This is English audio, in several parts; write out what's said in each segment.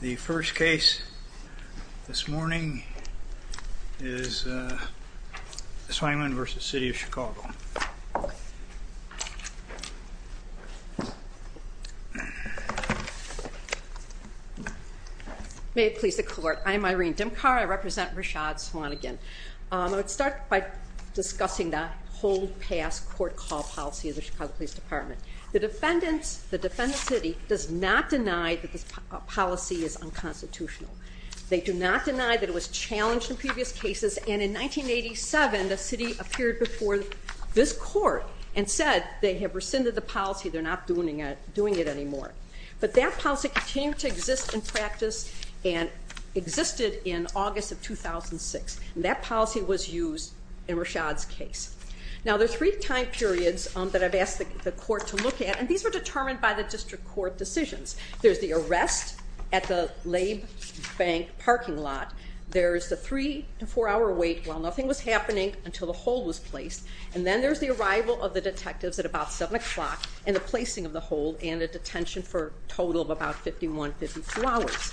The first case this morning is Swanigan v. City of Chicago. May it please the court, I'm Irene Dimkar, I represent Rashad Swanigan. I would start by discussing the hold, pass, court, call policy of the Chicago Police Department. The defendants, the defendant's city, does not deny that this policy is unconstitutional. They do not deny that it was challenged in previous cases, and in 1987 the city appeared before this court and said they have rescinded the policy, they're not doing it anymore. But that policy continued to exist in practice and existed in August of 2006. That policy was used in Rashad's case. Now there are three time periods that I've asked the court to look at, and these were determined by the district court decisions. There's the arrest at the Labe Bank parking lot. There's the three to four hour wait while nothing was happening until the hold was placed. And then there's the arrival of the detectives at about 7 o'clock and the placing of the hold and a detention for a total of about 51, 52 hours.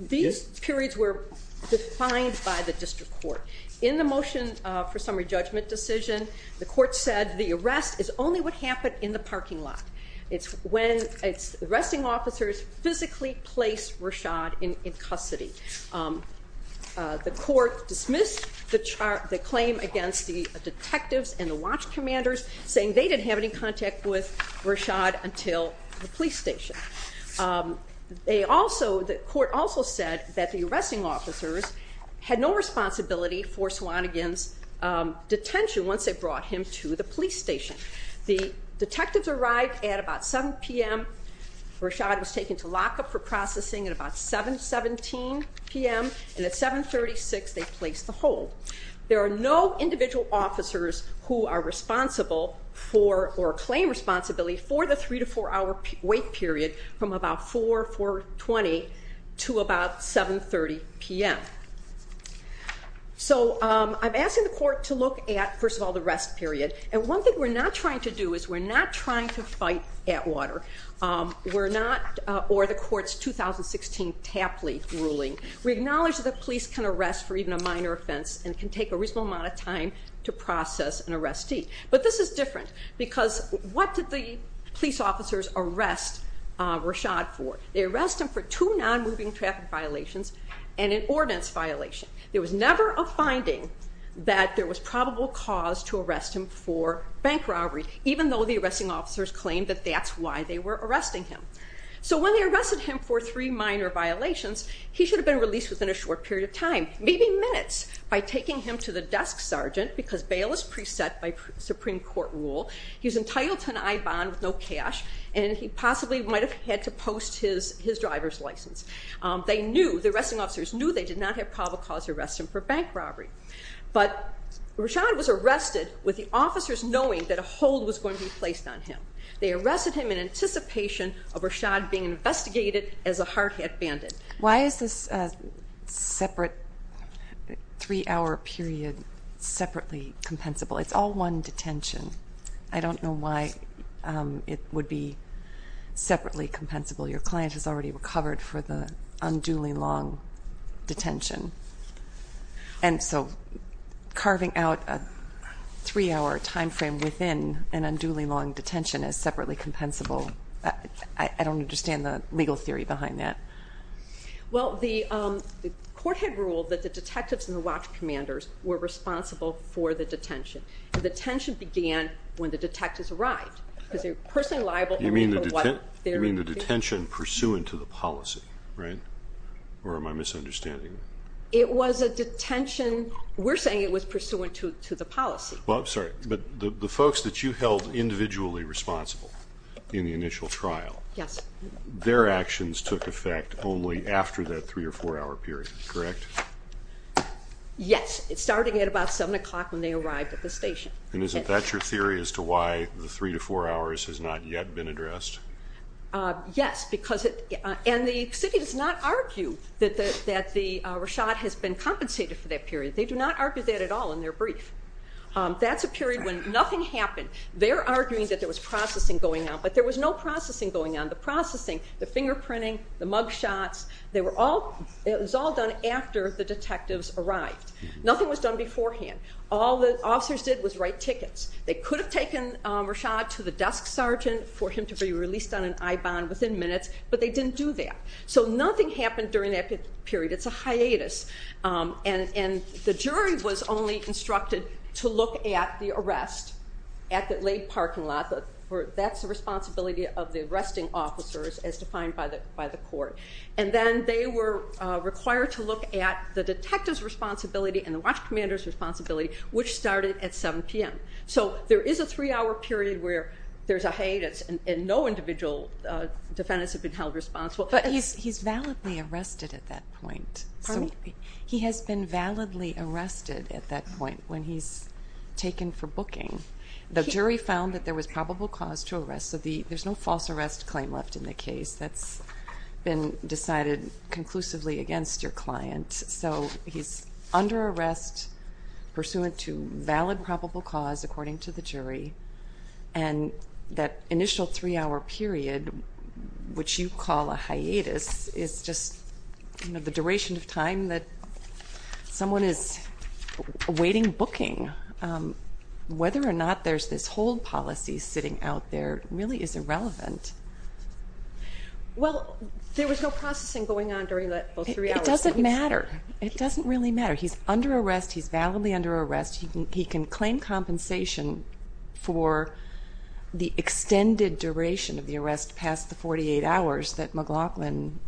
These periods were defined by the district court. In the motion for summary judgment decision, the court said the arrest is only what happened in the parking lot. It's when arresting officers physically placed Rashad in custody. The court dismissed the claim against the detectives and the watch commanders, saying they didn't have any contact with Rashad until the police station. The court also said that the arresting officers had no responsibility for Swanigan's detention once they brought him to the police station. The detectives arrived at about 7 p.m. Rashad was taken to lockup for processing at about 7, 17 p.m. And at 7, 36, they placed the hold. There are no individual officers who are responsible for or claim responsibility for the three to four hour wait period from about 4, 4, 20 to about 7, 30 p.m. So I'm asking the court to look at, first of all, the rest period. And one thing we're not trying to do is we're not trying to fight at water. We're not, or the court's 2016 Tapley ruling. We acknowledge that the police can arrest for even a minor offense and can take a reasonable amount of time to process an arrestee. But this is different because what did the police officers arrest Rashad for? They arrest him for two non-moving traffic violations and an ordinance violation. There was never a finding that there was probable cause to arrest him for bank robbery, even though the arresting officers claimed that that's why they were arresting him. So when they arrested him for three minor violations, he should have been released within a short period of time, maybe minutes, by taking him to the desk sergeant because bail is preset by Supreme Court rule. He's entitled to an I bond with no cash, and he possibly might have had to post his driver's license. They knew, the arresting officers knew they did not have probable cause to arrest him for bank robbery. But Rashad was arrested with the officers knowing that a hold was going to be placed on him. They arrested him in anticipation of Rashad being investigated as a hard hit bandit. Why is this separate three hour period separately compensable? It's all one detention. I don't know why it would be separately compensable. Your client has already recovered for the unduly long detention. And so carving out a three hour time frame within an unduly long detention is separately compensable. I don't understand the legal theory behind that. Well, the court had ruled that the detectives and the watch commanders were responsible for the detention. The detention began when the detectives arrived because they were personally liable. You mean the detention pursuant to the policy, right? Or am I misunderstanding? It was a detention. We're saying it was pursuant to the policy. Well, I'm sorry, but the folks that you held individually responsible in the initial trial. Yes. Their actions took effect only after that three or four hour period, correct? Yes, starting at about seven o'clock when they arrived at the station. And isn't that your theory as to why the three to four hours has not yet been addressed? Yes, and the city does not argue that Rashad has been compensated for that period. They do not argue that at all in their brief. That's a period when nothing happened. They're arguing that there was processing going on, but there was no processing going on. The processing, the fingerprinting, the mug shots, it was all done after the detectives arrived. Nothing was done beforehand. All the officers did was write tickets. They could have taken Rashad to the desk sergeant for him to be released on an I-bond within minutes, but they didn't do that. So nothing happened during that period. It's a hiatus. And the jury was only instructed to look at the arrest at the late parking lot. That's the responsibility of the arresting officers as defined by the court. And then they were required to look at the detective's responsibility and the watch commander's responsibility, which started at 7 p.m. So there is a three-hour period where there's a hiatus and no individual defendants have been held responsible. But he's validly arrested at that point. He has been validly arrested at that point when he's taken for booking. The jury found that there was probable cause to arrest, so there's no false arrest claim left in the case. That's been decided conclusively against your client. So he's under arrest pursuant to valid probable cause according to the jury. And that initial three-hour period, which you call a hiatus, is just the duration of time that someone is awaiting booking. Whether or not there's this hold policy sitting out there really is irrelevant. Well, there was no processing going on during those three hours. It doesn't matter. It doesn't really matter. He's under arrest. He's validly under arrest. He can claim compensation for the extended duration of the arrest past the 48 hours that McLaughlin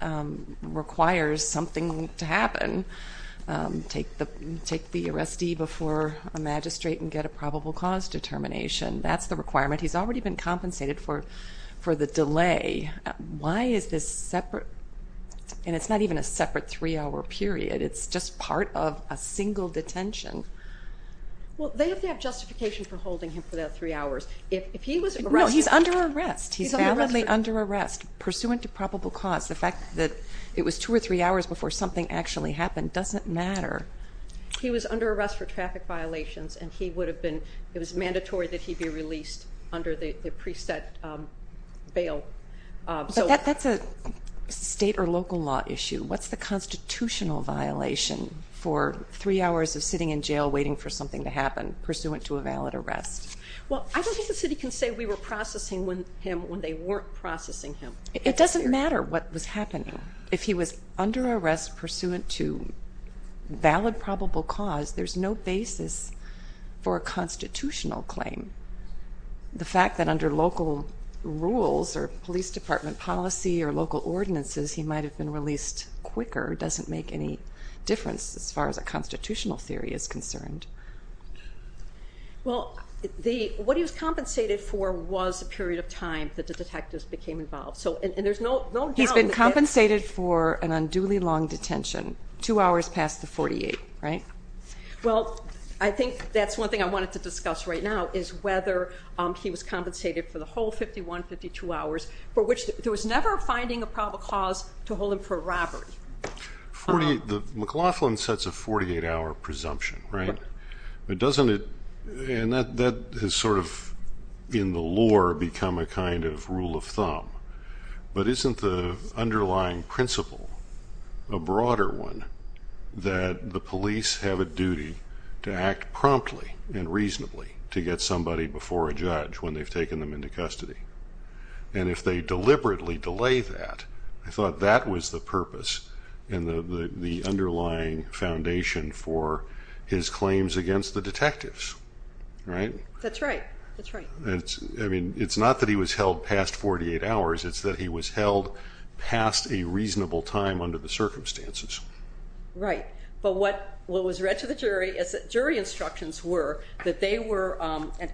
requires something to happen, take the arrestee before a magistrate and get a probable cause determination. That's the requirement. He's already been compensated for the delay. Why is this separate? And it's not even a separate three-hour period. It's just part of a single detention. Well, they have to have justification for holding him for those three hours. No, he's under arrest. He's validly under arrest pursuant to probable cause. The fact that it was two or three hours before something actually happened doesn't matter. He was under arrest for traffic violations, and it was mandatory that he be released under the preset bail. But that's a state or local law issue. What's the constitutional violation for three hours of sitting in jail waiting for something to happen pursuant to a valid arrest? Well, I don't think the city can say we were processing him when they weren't processing him. It doesn't matter what was happening. If he was under arrest pursuant to valid probable cause, there's no basis for a constitutional claim. The fact that under local rules or police department policy or local ordinances he might have been released quicker doesn't make any difference as far as a constitutional theory is concerned. Well, what he was compensated for was the period of time that the detectives became involved. He's been compensated for an unduly long detention, two hours past the 48, right? Well, I think that's one thing I wanted to discuss right now, is whether he was compensated for the whole 51, 52 hours, for which there was never a finding of probable cause to hold him for robbery. McLaughlin sets a 48-hour presumption, right? But doesn't it, and that has sort of in the lore become a kind of rule of thumb, but isn't the underlying principle a broader one that the police have a duty to act promptly and reasonably to get somebody before a judge when they've taken them into custody? And if they deliberately delay that, I thought that was the purpose and the underlying foundation for his claims against the detectives, right? That's right, that's right. I mean, it's not that he was held past 48 hours, it's that he was held past a reasonable time under the circumstances. Right, but what was read to the jury is that jury instructions were that they were, and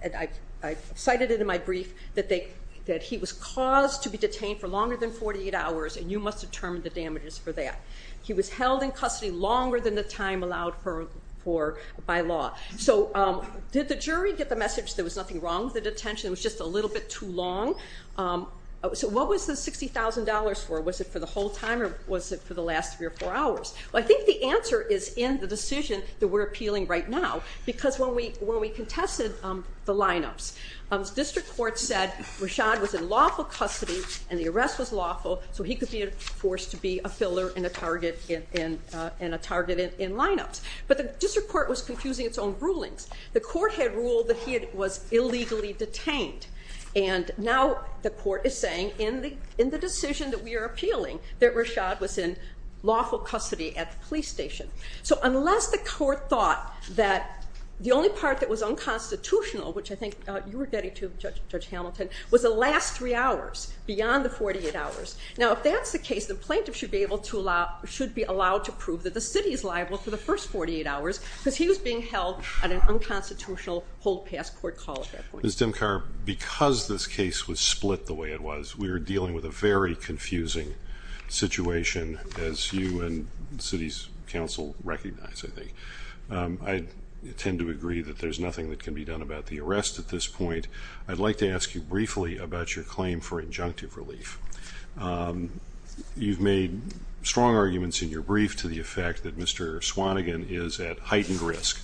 I cited it in my brief, that he was caused to be detained for longer than 48 hours and you must determine the damages for that. He was held in custody longer than the time allowed for by law. So did the jury get the message there was nothing wrong with the detention, it was just a little bit too long? So what was the $60,000 for? Was it for the whole time or was it for the last three or four hours? Well, I think the answer is in the decision that we're appealing right now because when we contested the lineups, the district court said Rashad was in lawful custody and the arrest was lawful, so he could be enforced to be a filler and a target in lineups. But the district court was confusing its own rulings. The court had ruled that he was illegally detained, and now the court is saying in the decision that we are appealing that Rashad was in lawful custody at the police station. So unless the court thought that the only part that was unconstitutional, which I think you were getting to, Judge Hamilton, was the last three hours beyond the 48 hours. Now if that's the case, the plaintiff should be allowed to prove that the city is liable for the first 48 hours because he was being held on an unconstitutional hold-pass court call at that point. Ms. Dimkar, because this case was split the way it was, we were dealing with a very confusing situation, as you and the city's counsel recognize, I think. I tend to agree that there's nothing that can be done about the arrest at this point. I'd like to ask you briefly about your claim for injunctive relief. You've made strong arguments in your brief to the effect that Mr. Swannigan is at heightened risk.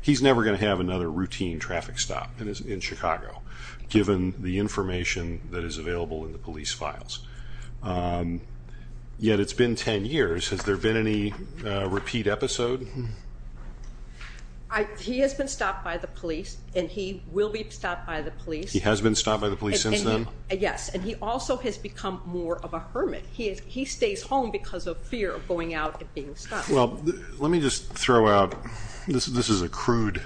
He's never going to have another routine traffic stop in Chicago, given the information that is available in the police files. Yet it's been ten years. Has there been any repeat episode? He has been stopped by the police, and he will be stopped by the police. He has been stopped by the police since then? Yes, and he also has become more of a hermit. He stays home because of fear of going out and being stopped. Well, let me just throw out, this is a crude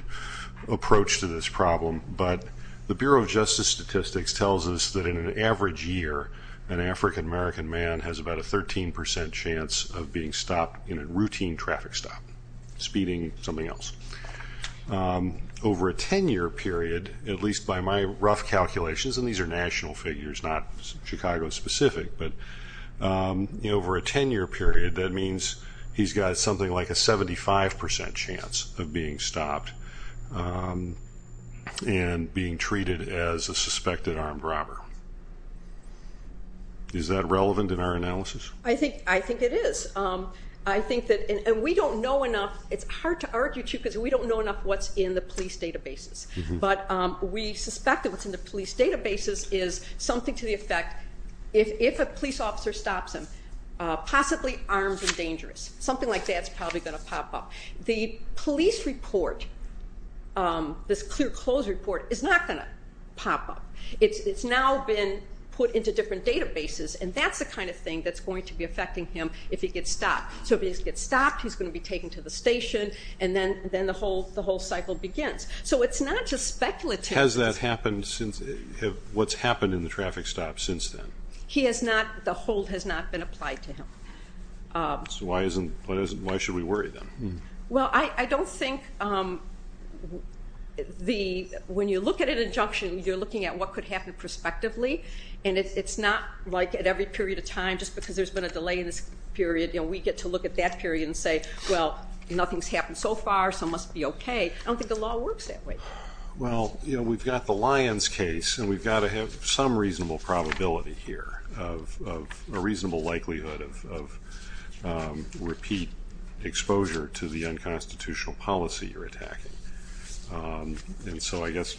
approach to this problem, but the Bureau of Justice Statistics tells us that in an average year, an African-American man has about a 13 percent chance of being stopped in a routine traffic stop, speeding, something else. Over a ten-year period, at least by my rough calculations, and these are national figures, not Chicago-specific, but over a ten-year period, that means he's got something like a 75 percent chance of being stopped and being treated as a suspected armed robber. Is that relevant in our analysis? I think it is. I think that, and we don't know enough, it's hard to argue too, because we don't know enough what's in the police databases, but we suspect that what's in the police databases is something to the effect, if a police officer stops him, possibly armed and dangerous. Something like that's probably going to pop up. The police report, this clear clothes report, is not going to pop up. It's now been put into different databases, and that's the kind of thing that's going to be affecting him if he gets stopped. So if he gets stopped, he's going to be taken to the station, and then the whole cycle begins. So it's not just speculative. Has that happened since, what's happened in the traffic stops since then? He has not, the hold has not been applied to him. So why should we worry then? Well, I don't think when you look at an injunction, you're looking at what could happen prospectively, and it's not like at every period of time, just because there's been a delay in this period, we get to look at that period and say, well, nothing's happened so far, so it must be okay. I don't think the law works that way. Well, we've got the Lyons case, and we've got to have some reasonable probability here of a reasonable likelihood of repeat exposure to the unconstitutional policy you're attacking. And so I guess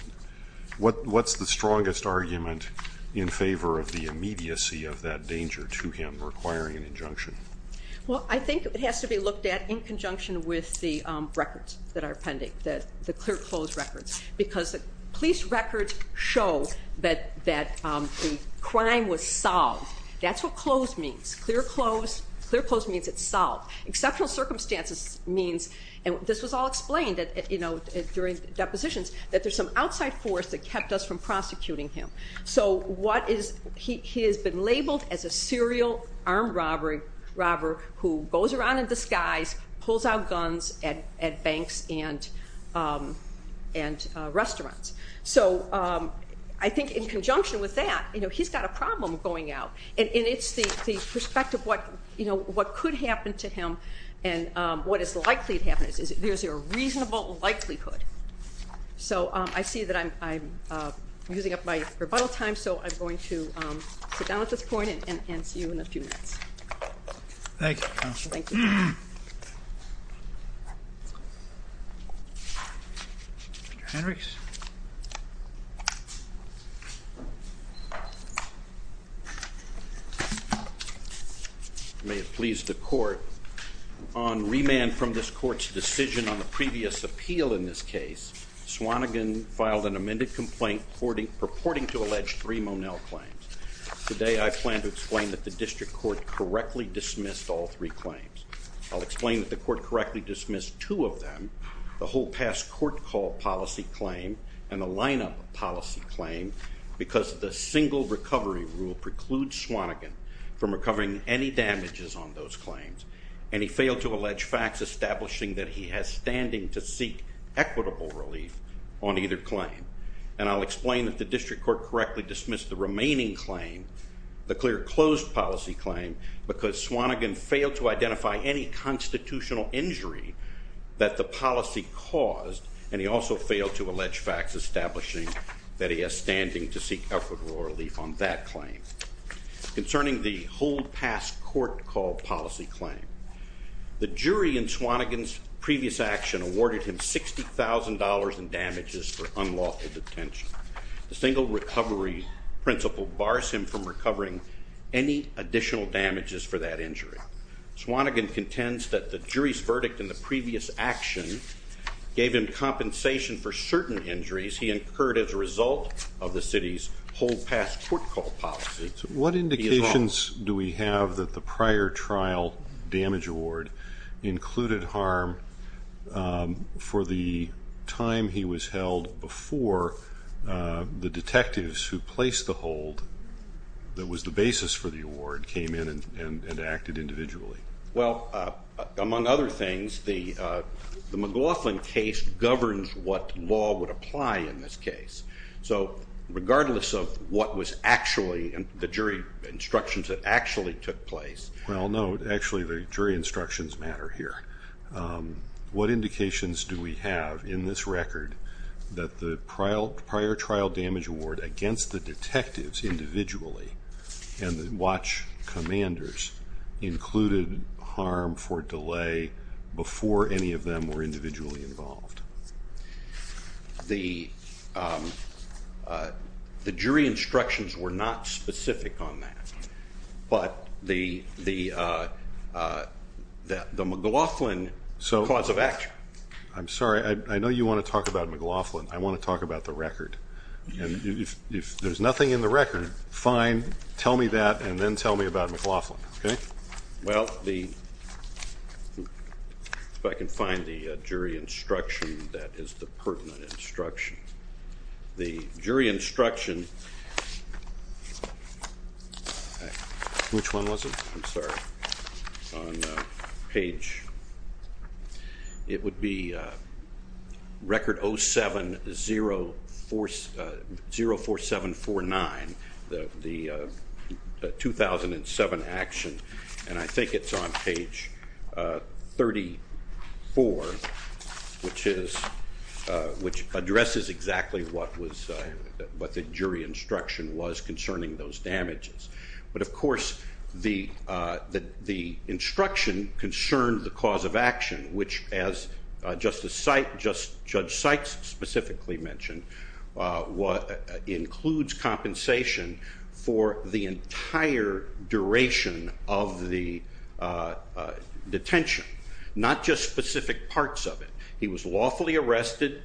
what's the strongest argument in favor of the immediacy of that danger to him requiring an injunction? Well, I think it has to be looked at in conjunction with the records that are pending, the clear close records, because the police records show that the crime was solved. That's what close means. Clear close means it's solved. Exceptional circumstances means, and this was all explained during depositions, that there's some outside force that kept us from prosecuting him. So what is, he has been labeled as a serial armed robber who goes around in disguise, pulls out guns at banks and restaurants. So I think in conjunction with that, he's got a problem going out, and it's the perspective of what could happen to him and what is likely to happen. Is there a reasonable likelihood? So I see that I'm using up my rebuttal time, so I'm going to sit down at this point and see you in a few minutes. Thank you, Counsel. Thank you. Mr. Hendricks. May it please the Court. On remand from this Court's decision on the previous appeal in this case, Swanigan filed an amended complaint purporting to allege three Monell claims. Today I plan to explain that the District Court correctly dismissed all three claims. I'll explain that the Court correctly dismissed two of them, the whole past court call policy claims, and the lineup policy claim, because the single recovery rule precludes Swanigan from recovering any damages on those claims, and he failed to allege facts establishing that he has standing to seek equitable relief on either claim. And I'll explain that the District Court correctly dismissed the remaining claim, the clear closed policy claim, because Swanigan failed to identify any constitutional injury that the policy caused, and he also failed to allege facts establishing that he has standing to seek equitable relief on that claim. Concerning the whole past court call policy claim, the jury in Swanigan's previous action awarded him $60,000 in damages for unlawful detention. The single recovery principle bars him from recovering any additional damages for that injury. Swanigan contends that the jury's verdict in the previous action gave him compensation for certain injuries he incurred as a result of the city's whole past court call policy. What indications do we have that the prior trial damage award included harm for the time he was held before the detectives who placed the hold that was the basis for the award came in and acted individually? Well, among other things, the McLaughlin case governs what law would apply in this case. So regardless of what was actually the jury instructions that actually took place... Well, no, actually the jury instructions matter here. What indications do we have in this record that the prior trial damage award against the detectives individually and the watch commanders included harm for delay before any of them were individually involved? The jury instructions were not specific on that, but the McLaughlin cause of action. I'm sorry. I know you want to talk about McLaughlin. I want to talk about the record. If there's nothing in the record, fine. Tell me that and then tell me about McLaughlin. Well, if I can find the jury instruction, that is the pertinent instruction. The jury instruction... Which one was it? I'm sorry. It's on page... It would be record 0704749, the 2007 action, and I think it's on page 34, which addresses exactly what the jury instruction was concerning those damages. But, of course, the instruction concerned the cause of action, which, as Justice Sykes specifically mentioned, includes compensation for the entire duration of the detention, not just specific parts of it. He was lawfully arrested.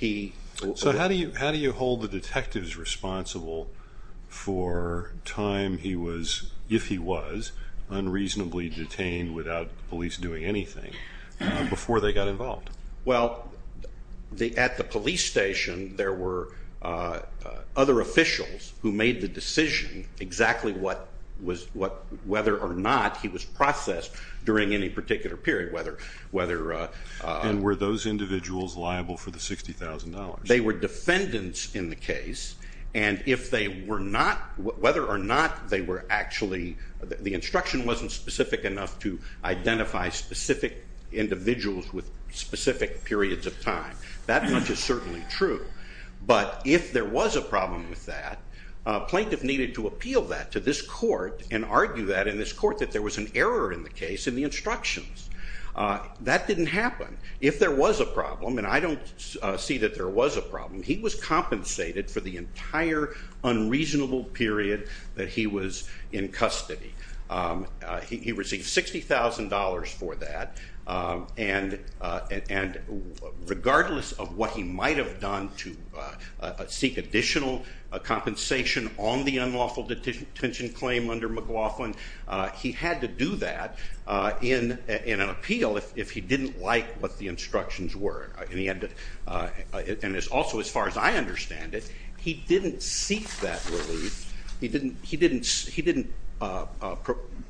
So how do you hold the detectives responsible for time he was, if he was, unreasonably detained without the police doing anything before they got involved? Well, at the police station, there were other officials who made the decision exactly whether or not he was processed during any particular period, whether... And were those individuals liable for the $60,000? They were defendants in the case, and if they were not, whether or not they were actually... The instruction wasn't specific enough to identify specific individuals with specific periods of time. That much is certainly true. But if there was a problem with that, a plaintiff needed to appeal that to this court and argue that in this court that there was an error in the case in the instructions. That didn't happen. If there was a problem, and I don't see that there was a problem, he was compensated for the entire unreasonable period that he was in custody. He received $60,000 for that, and regardless of what he might have done to seek additional compensation on the unlawful detention claim under McLaughlin, he had to do that in an appeal if he didn't like what the instructions were. And also, as far as I understand it, he didn't seek that relief. He didn't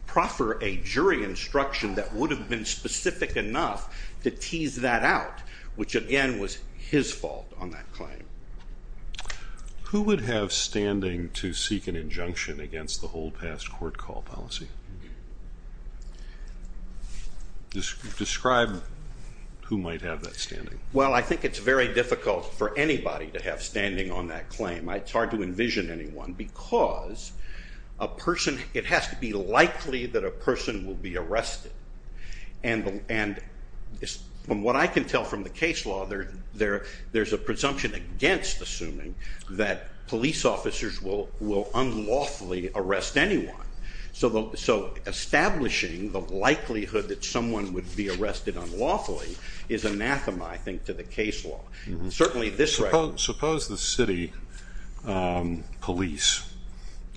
proffer a jury instruction that would have been specific enough to tease that out, which again was his fault on that claim. Who would have standing to seek an injunction against the hold-past-court-call policy? Describe who might have that standing. Well, I think it's very difficult for anybody to have standing on that claim. It's hard to envision anyone because it has to be likely that a person will be arrested. And from what I can tell from the case law, there's a presumption against assuming that police officers will unlawfully arrest anyone. So establishing the likelihood that someone would be arrested unlawfully is anathema, I think, to the case law. Certainly this record... Suppose the city police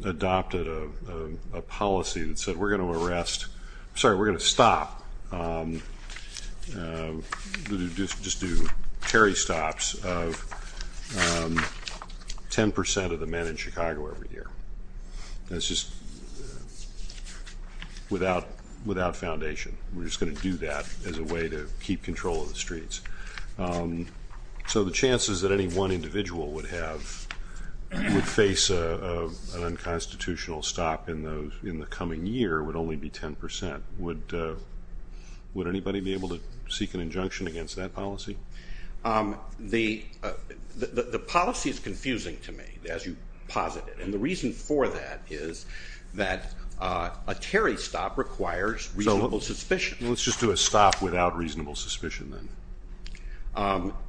adopted a policy that said, we're going to arrest, sorry, we're going to stop, just do tarry stops of 10% of the men in Chicago every year. That's just without foundation. We're just going to do that as a way to keep control of the streets. So the chances that any one individual would face an unconstitutional stop in the coming year would only be 10%. Would anybody be able to seek an injunction against that policy? The policy is confusing to me, as you posit it. And the reason for that is that a tarry stop requires reasonable suspicion. Let's just do a stop without reasonable suspicion then.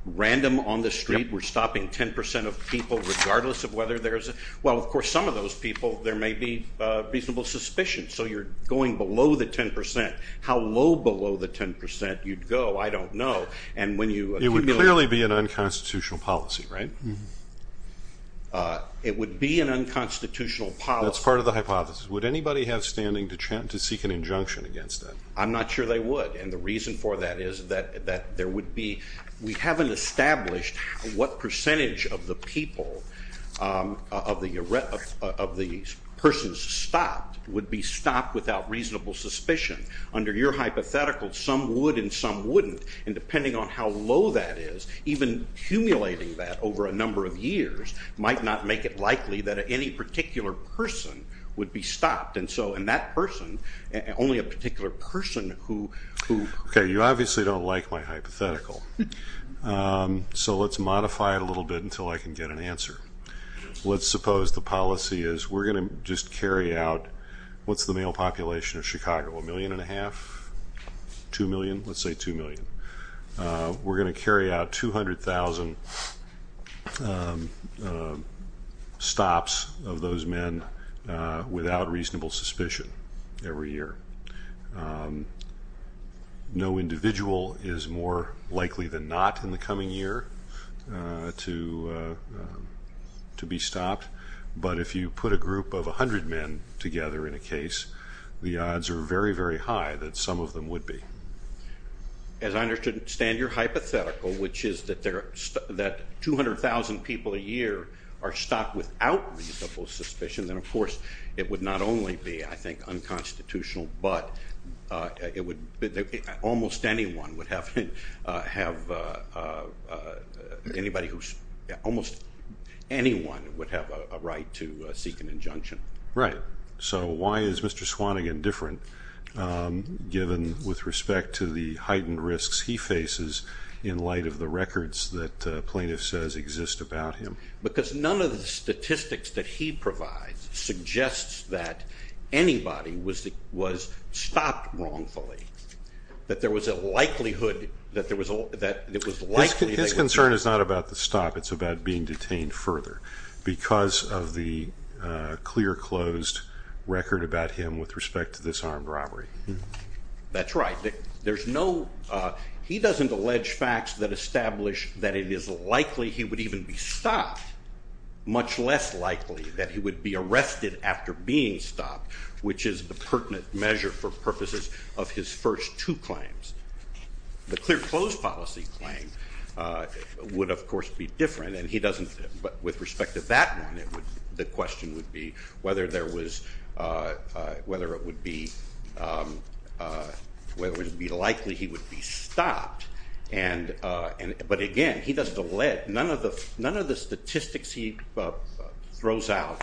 Random on the street, we're stopping 10% of people regardless of whether there's a... Well, of course, some of those people, there may be reasonable suspicion. So you're going below the 10%. How low below the 10% you'd go, I don't know. It would clearly be an unconstitutional policy, right? It would be an unconstitutional policy. That's part of the hypothesis. Would anybody have standing to seek an injunction against that? I'm not sure they would. And the reason for that is that there would be... We haven't established what percentage of the people, of the persons stopped, would be stopped without reasonable suspicion. Under your hypothetical, some would and some wouldn't. And depending on how low that is, even accumulating that over a number of years, might not make it likely that any particular person would be stopped. And so in that person, only a particular person who... Okay, you obviously don't like my hypothetical. So let's modify it a little bit until I can get an answer. Let's suppose the policy is we're going to just carry out... What's the male population of Chicago? A million and a half? Two million? Let's say two million. We're going to carry out 200,000 stops of those men without reasonable suspicion every year. No individual is more likely than not in the coming year to be stopped. But if you put a group of 100 men together in a case, the odds are very, very high that some of them would be. As I understand your hypothetical, which is that 200,000 people a year are stopped without reasonable suspicion, then of course it would not only be, I think, unconstitutional, but almost anyone would have a right to seek an injunction. Right. So why is Mr. Swanigan different given, with respect to the heightened risks he faces, in light of the records that plaintiff says exist about him? Because none of the statistics that he provides suggests that anybody was stopped wrongfully, that there was a likelihood that it was likely... His concern is not about the stop. It's about being detained further because of the clear, closed record about him with respect to this armed robbery. That's right. He doesn't allege facts that establish that it is likely he would even be stopped, much less likely that he would be arrested after being stopped, which is the pertinent measure for purposes of his first two claims. The clear, closed policy claim would, of course, be different. But with respect to that one, the question would be whether it would be likely he would be stopped. But again, he doesn't allege. None of the statistics he throws out,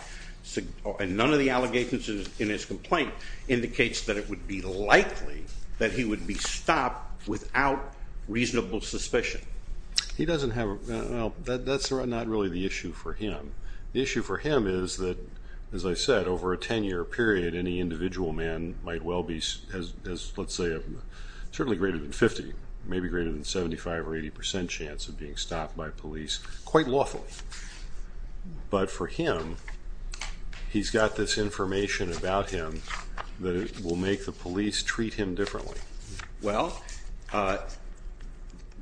and none of the allegations in his complaint, indicates that it would be likely that he would be stopped without reasonable suspicion. That's not really the issue for him. The issue for him is that, as I said, over a 10-year period, any individual man might well be, let's say, certainly greater than 50, maybe greater than 75 or 80 percent chance of being stopped by police, quite lawfully. But for him, he's got this information about him that will make the police treat him differently. Well,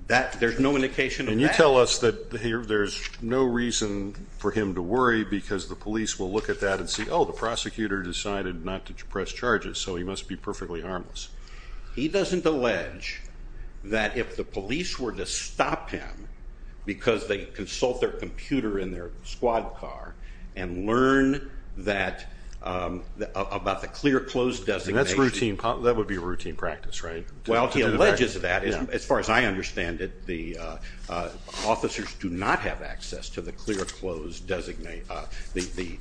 there's no indication of that. And you tell us that there's no reason for him to worry because the police will look at that and see, oh, the prosecutor decided not to press charges, so he must be perfectly harmless. He doesn't allege that if the police were to stop him because they consult their computer in their squad car and learn about the clear, closed designation. That would be a routine practice, right? Well, he alleges that. As far as I understand it, the officers do not have access to the clear, closed designation, the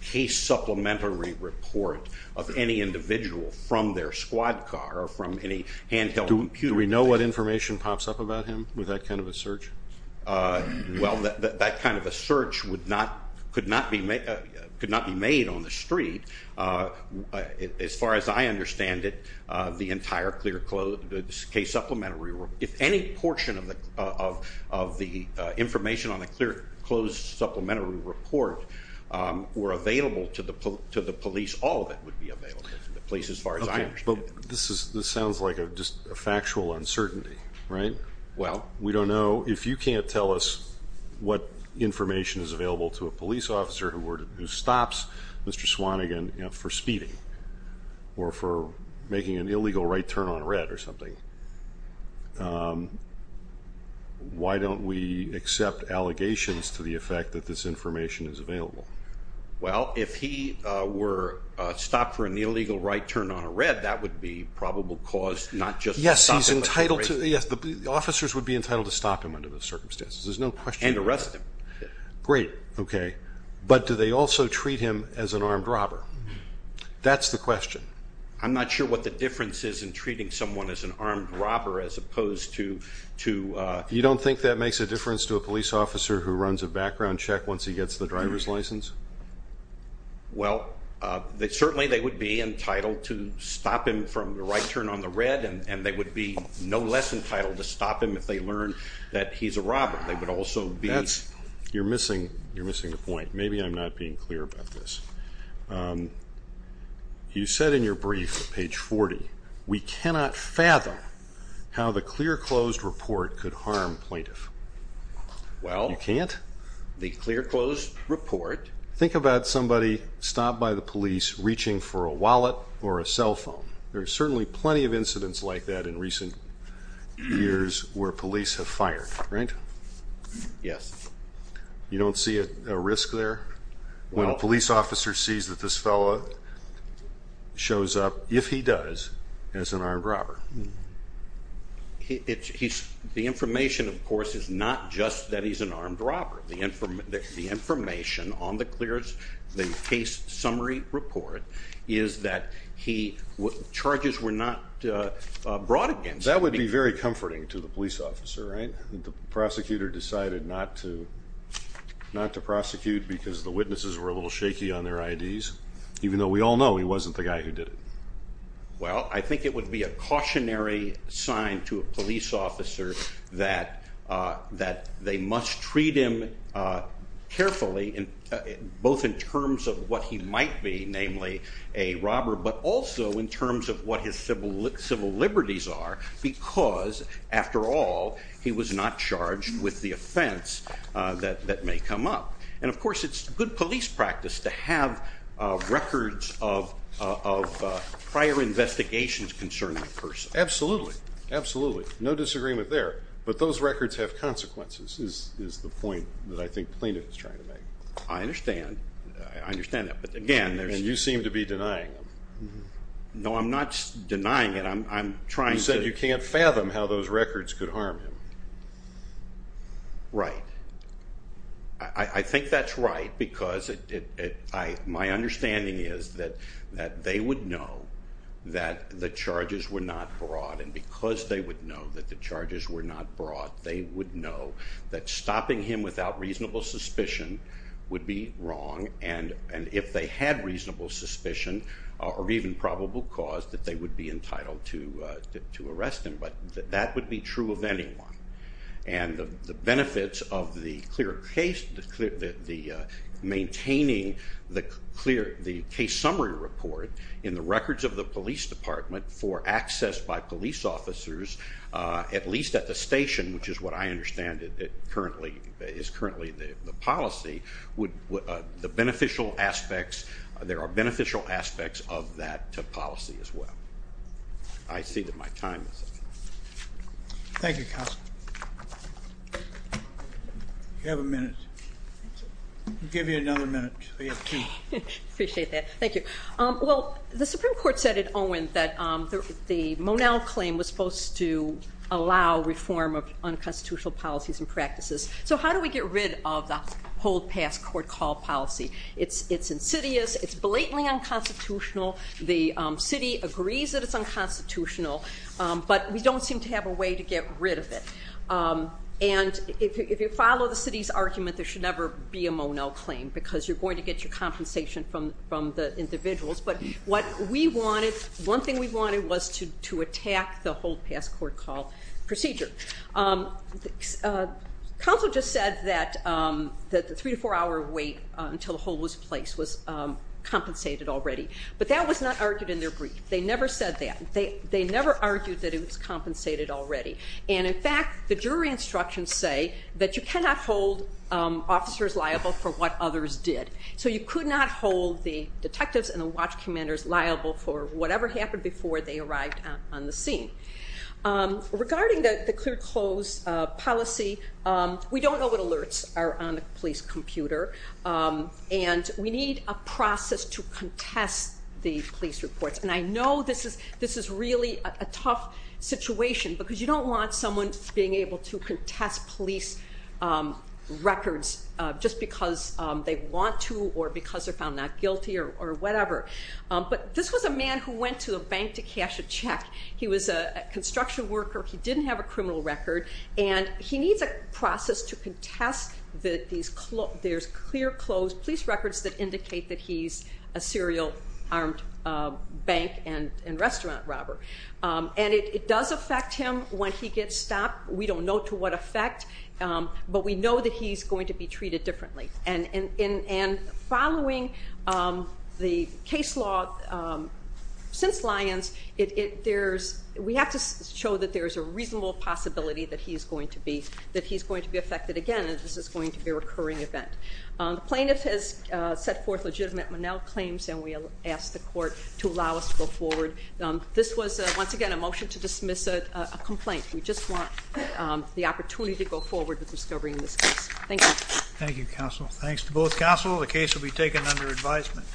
case supplementary report of any individual from their squad car or from any handheld computer. Do we know what information pops up about him with that kind of a search? Well, that kind of a search could not be made on the street. As far as I understand it, the entire case supplementary report, if any portion of the information on the clear, closed supplementary report were available to the police, all of it would be available to the police as far as I understand it. But this sounds like just a factual uncertainty, right? Well, we don't know. So if you can't tell us what information is available to a police officer who stops Mr. Swanigan for speeding or for making an illegal right turn on a red or something, why don't we accept allegations to the effect that this information is available? Well, if he were stopped for an illegal right turn on a red, that would be probable cause not just to stop him. Officers would be entitled to stop him under those circumstances. There's no question about that. And arrest him. Great. Okay. But do they also treat him as an armed robber? That's the question. I'm not sure what the difference is in treating someone as an armed robber as opposed to... You don't think that makes a difference to a police officer who runs a background check once he gets the driver's license? Well, certainly they would be entitled to stop him from the right turn on the red, and they would be no less entitled to stop him if they learn that he's a robber. They would also be... You're missing the point. Maybe I'm not being clear about this. You said in your brief at page 40, we cannot fathom how the clear-closed report could harm plaintiff. Well... You can't? The clear-closed report... Think about somebody stopped by the police reaching for a wallet or a cell phone. There are certainly plenty of incidents like that in recent years where police have fired, right? Yes. You don't see a risk there? Well... When a police officer sees that this fellow shows up, if he does, as an armed robber. The information, of course, is not just that he's an armed robber. The information on the case summary report is that charges were not brought against him. That would be very comforting to the police officer, right? The prosecutor decided not to prosecute because the witnesses were a little shaky on their IDs, even though we all know he wasn't the guy who did it. Well, I think it would be a cautionary sign to a police officer that they must treat him carefully, both in terms of what he might be, namely a robber, but also in terms of what his civil liberties are because, after all, he was not charged with the offense that may come up. And, of course, it's good police practice to have records of prior investigations concerning the person. Absolutely. Absolutely. No disagreement there. But those records have consequences, is the point that I think Plaintiff is trying to make. I understand. I understand that. But, again, there's... And you seem to be denying them. No, I'm not denying it. I'm trying to... You said you can't fathom how those records could harm him. Right. I think that's right because my understanding is that they would know that the charges were not brought, and because they would know that the charges were not brought, they would know that stopping him without reasonable suspicion would be wrong, and if they had reasonable suspicion or even probable cause, that they would be entitled to arrest him. But that would be true of anyone. And the benefits of maintaining the case summary report in the records of the police department for access by police officers, at least at the station, which is what I understand is currently the policy, there are beneficial aspects of that policy as well. I see that my time is up. Thank you, Counsel. You have a minute. I'll give you another minute. We have two. I appreciate that. Thank you. Well, the Supreme Court said at Owen that the Monell claim was supposed to allow reform of unconstitutional policies and practices. So how do we get rid of the hold, pass, court, call policy? It's insidious. It's blatantly unconstitutional. The city agrees that it's unconstitutional, but we don't seem to have a way to get rid of it. And if you follow the city's argument, there should never be a Monell claim because you're going to get your compensation from the individuals. But what we wanted, one thing we wanted was to attack the hold, pass, court, call procedure. Counsel just said that the three to four hour wait until the hold was placed was compensated already. But that was not argued in their brief. They never said that. They never argued that it was compensated already. And, in fact, the jury instructions say that you cannot hold officers liable for what others did. So you could not hold the detectives and the watch commanders liable for whatever happened before they arrived on the scene. Regarding the clear close policy, we don't know what alerts are on the police computer. And we need a process to contest the police reports. And I know this is really a tough situation because you don't want someone being able to contest police records just because they want to or because they're found not guilty or whatever. But this was a man who went to a bank to cash a check. He was a construction worker. He didn't have a criminal record. And he needs a process to contest that there's clear close police records that indicate that he's a serial armed bank and restaurant robber. And it does affect him when he gets stopped. We don't know to what effect. But we know that he's going to be treated differently. And following the case law since Lyons, we have to show that there's a reasonable possibility that he's going to be affected again. And this is going to be a recurring event. The plaintiff has set forth legitimate Monell claims, and we ask the court to allow us to go forward. This was, once again, a motion to dismiss a complaint. We just want the opportunity to go forward with discovering this case. Thank you. Thank you, counsel. Thanks to both counsel. The case will be taken under advisement.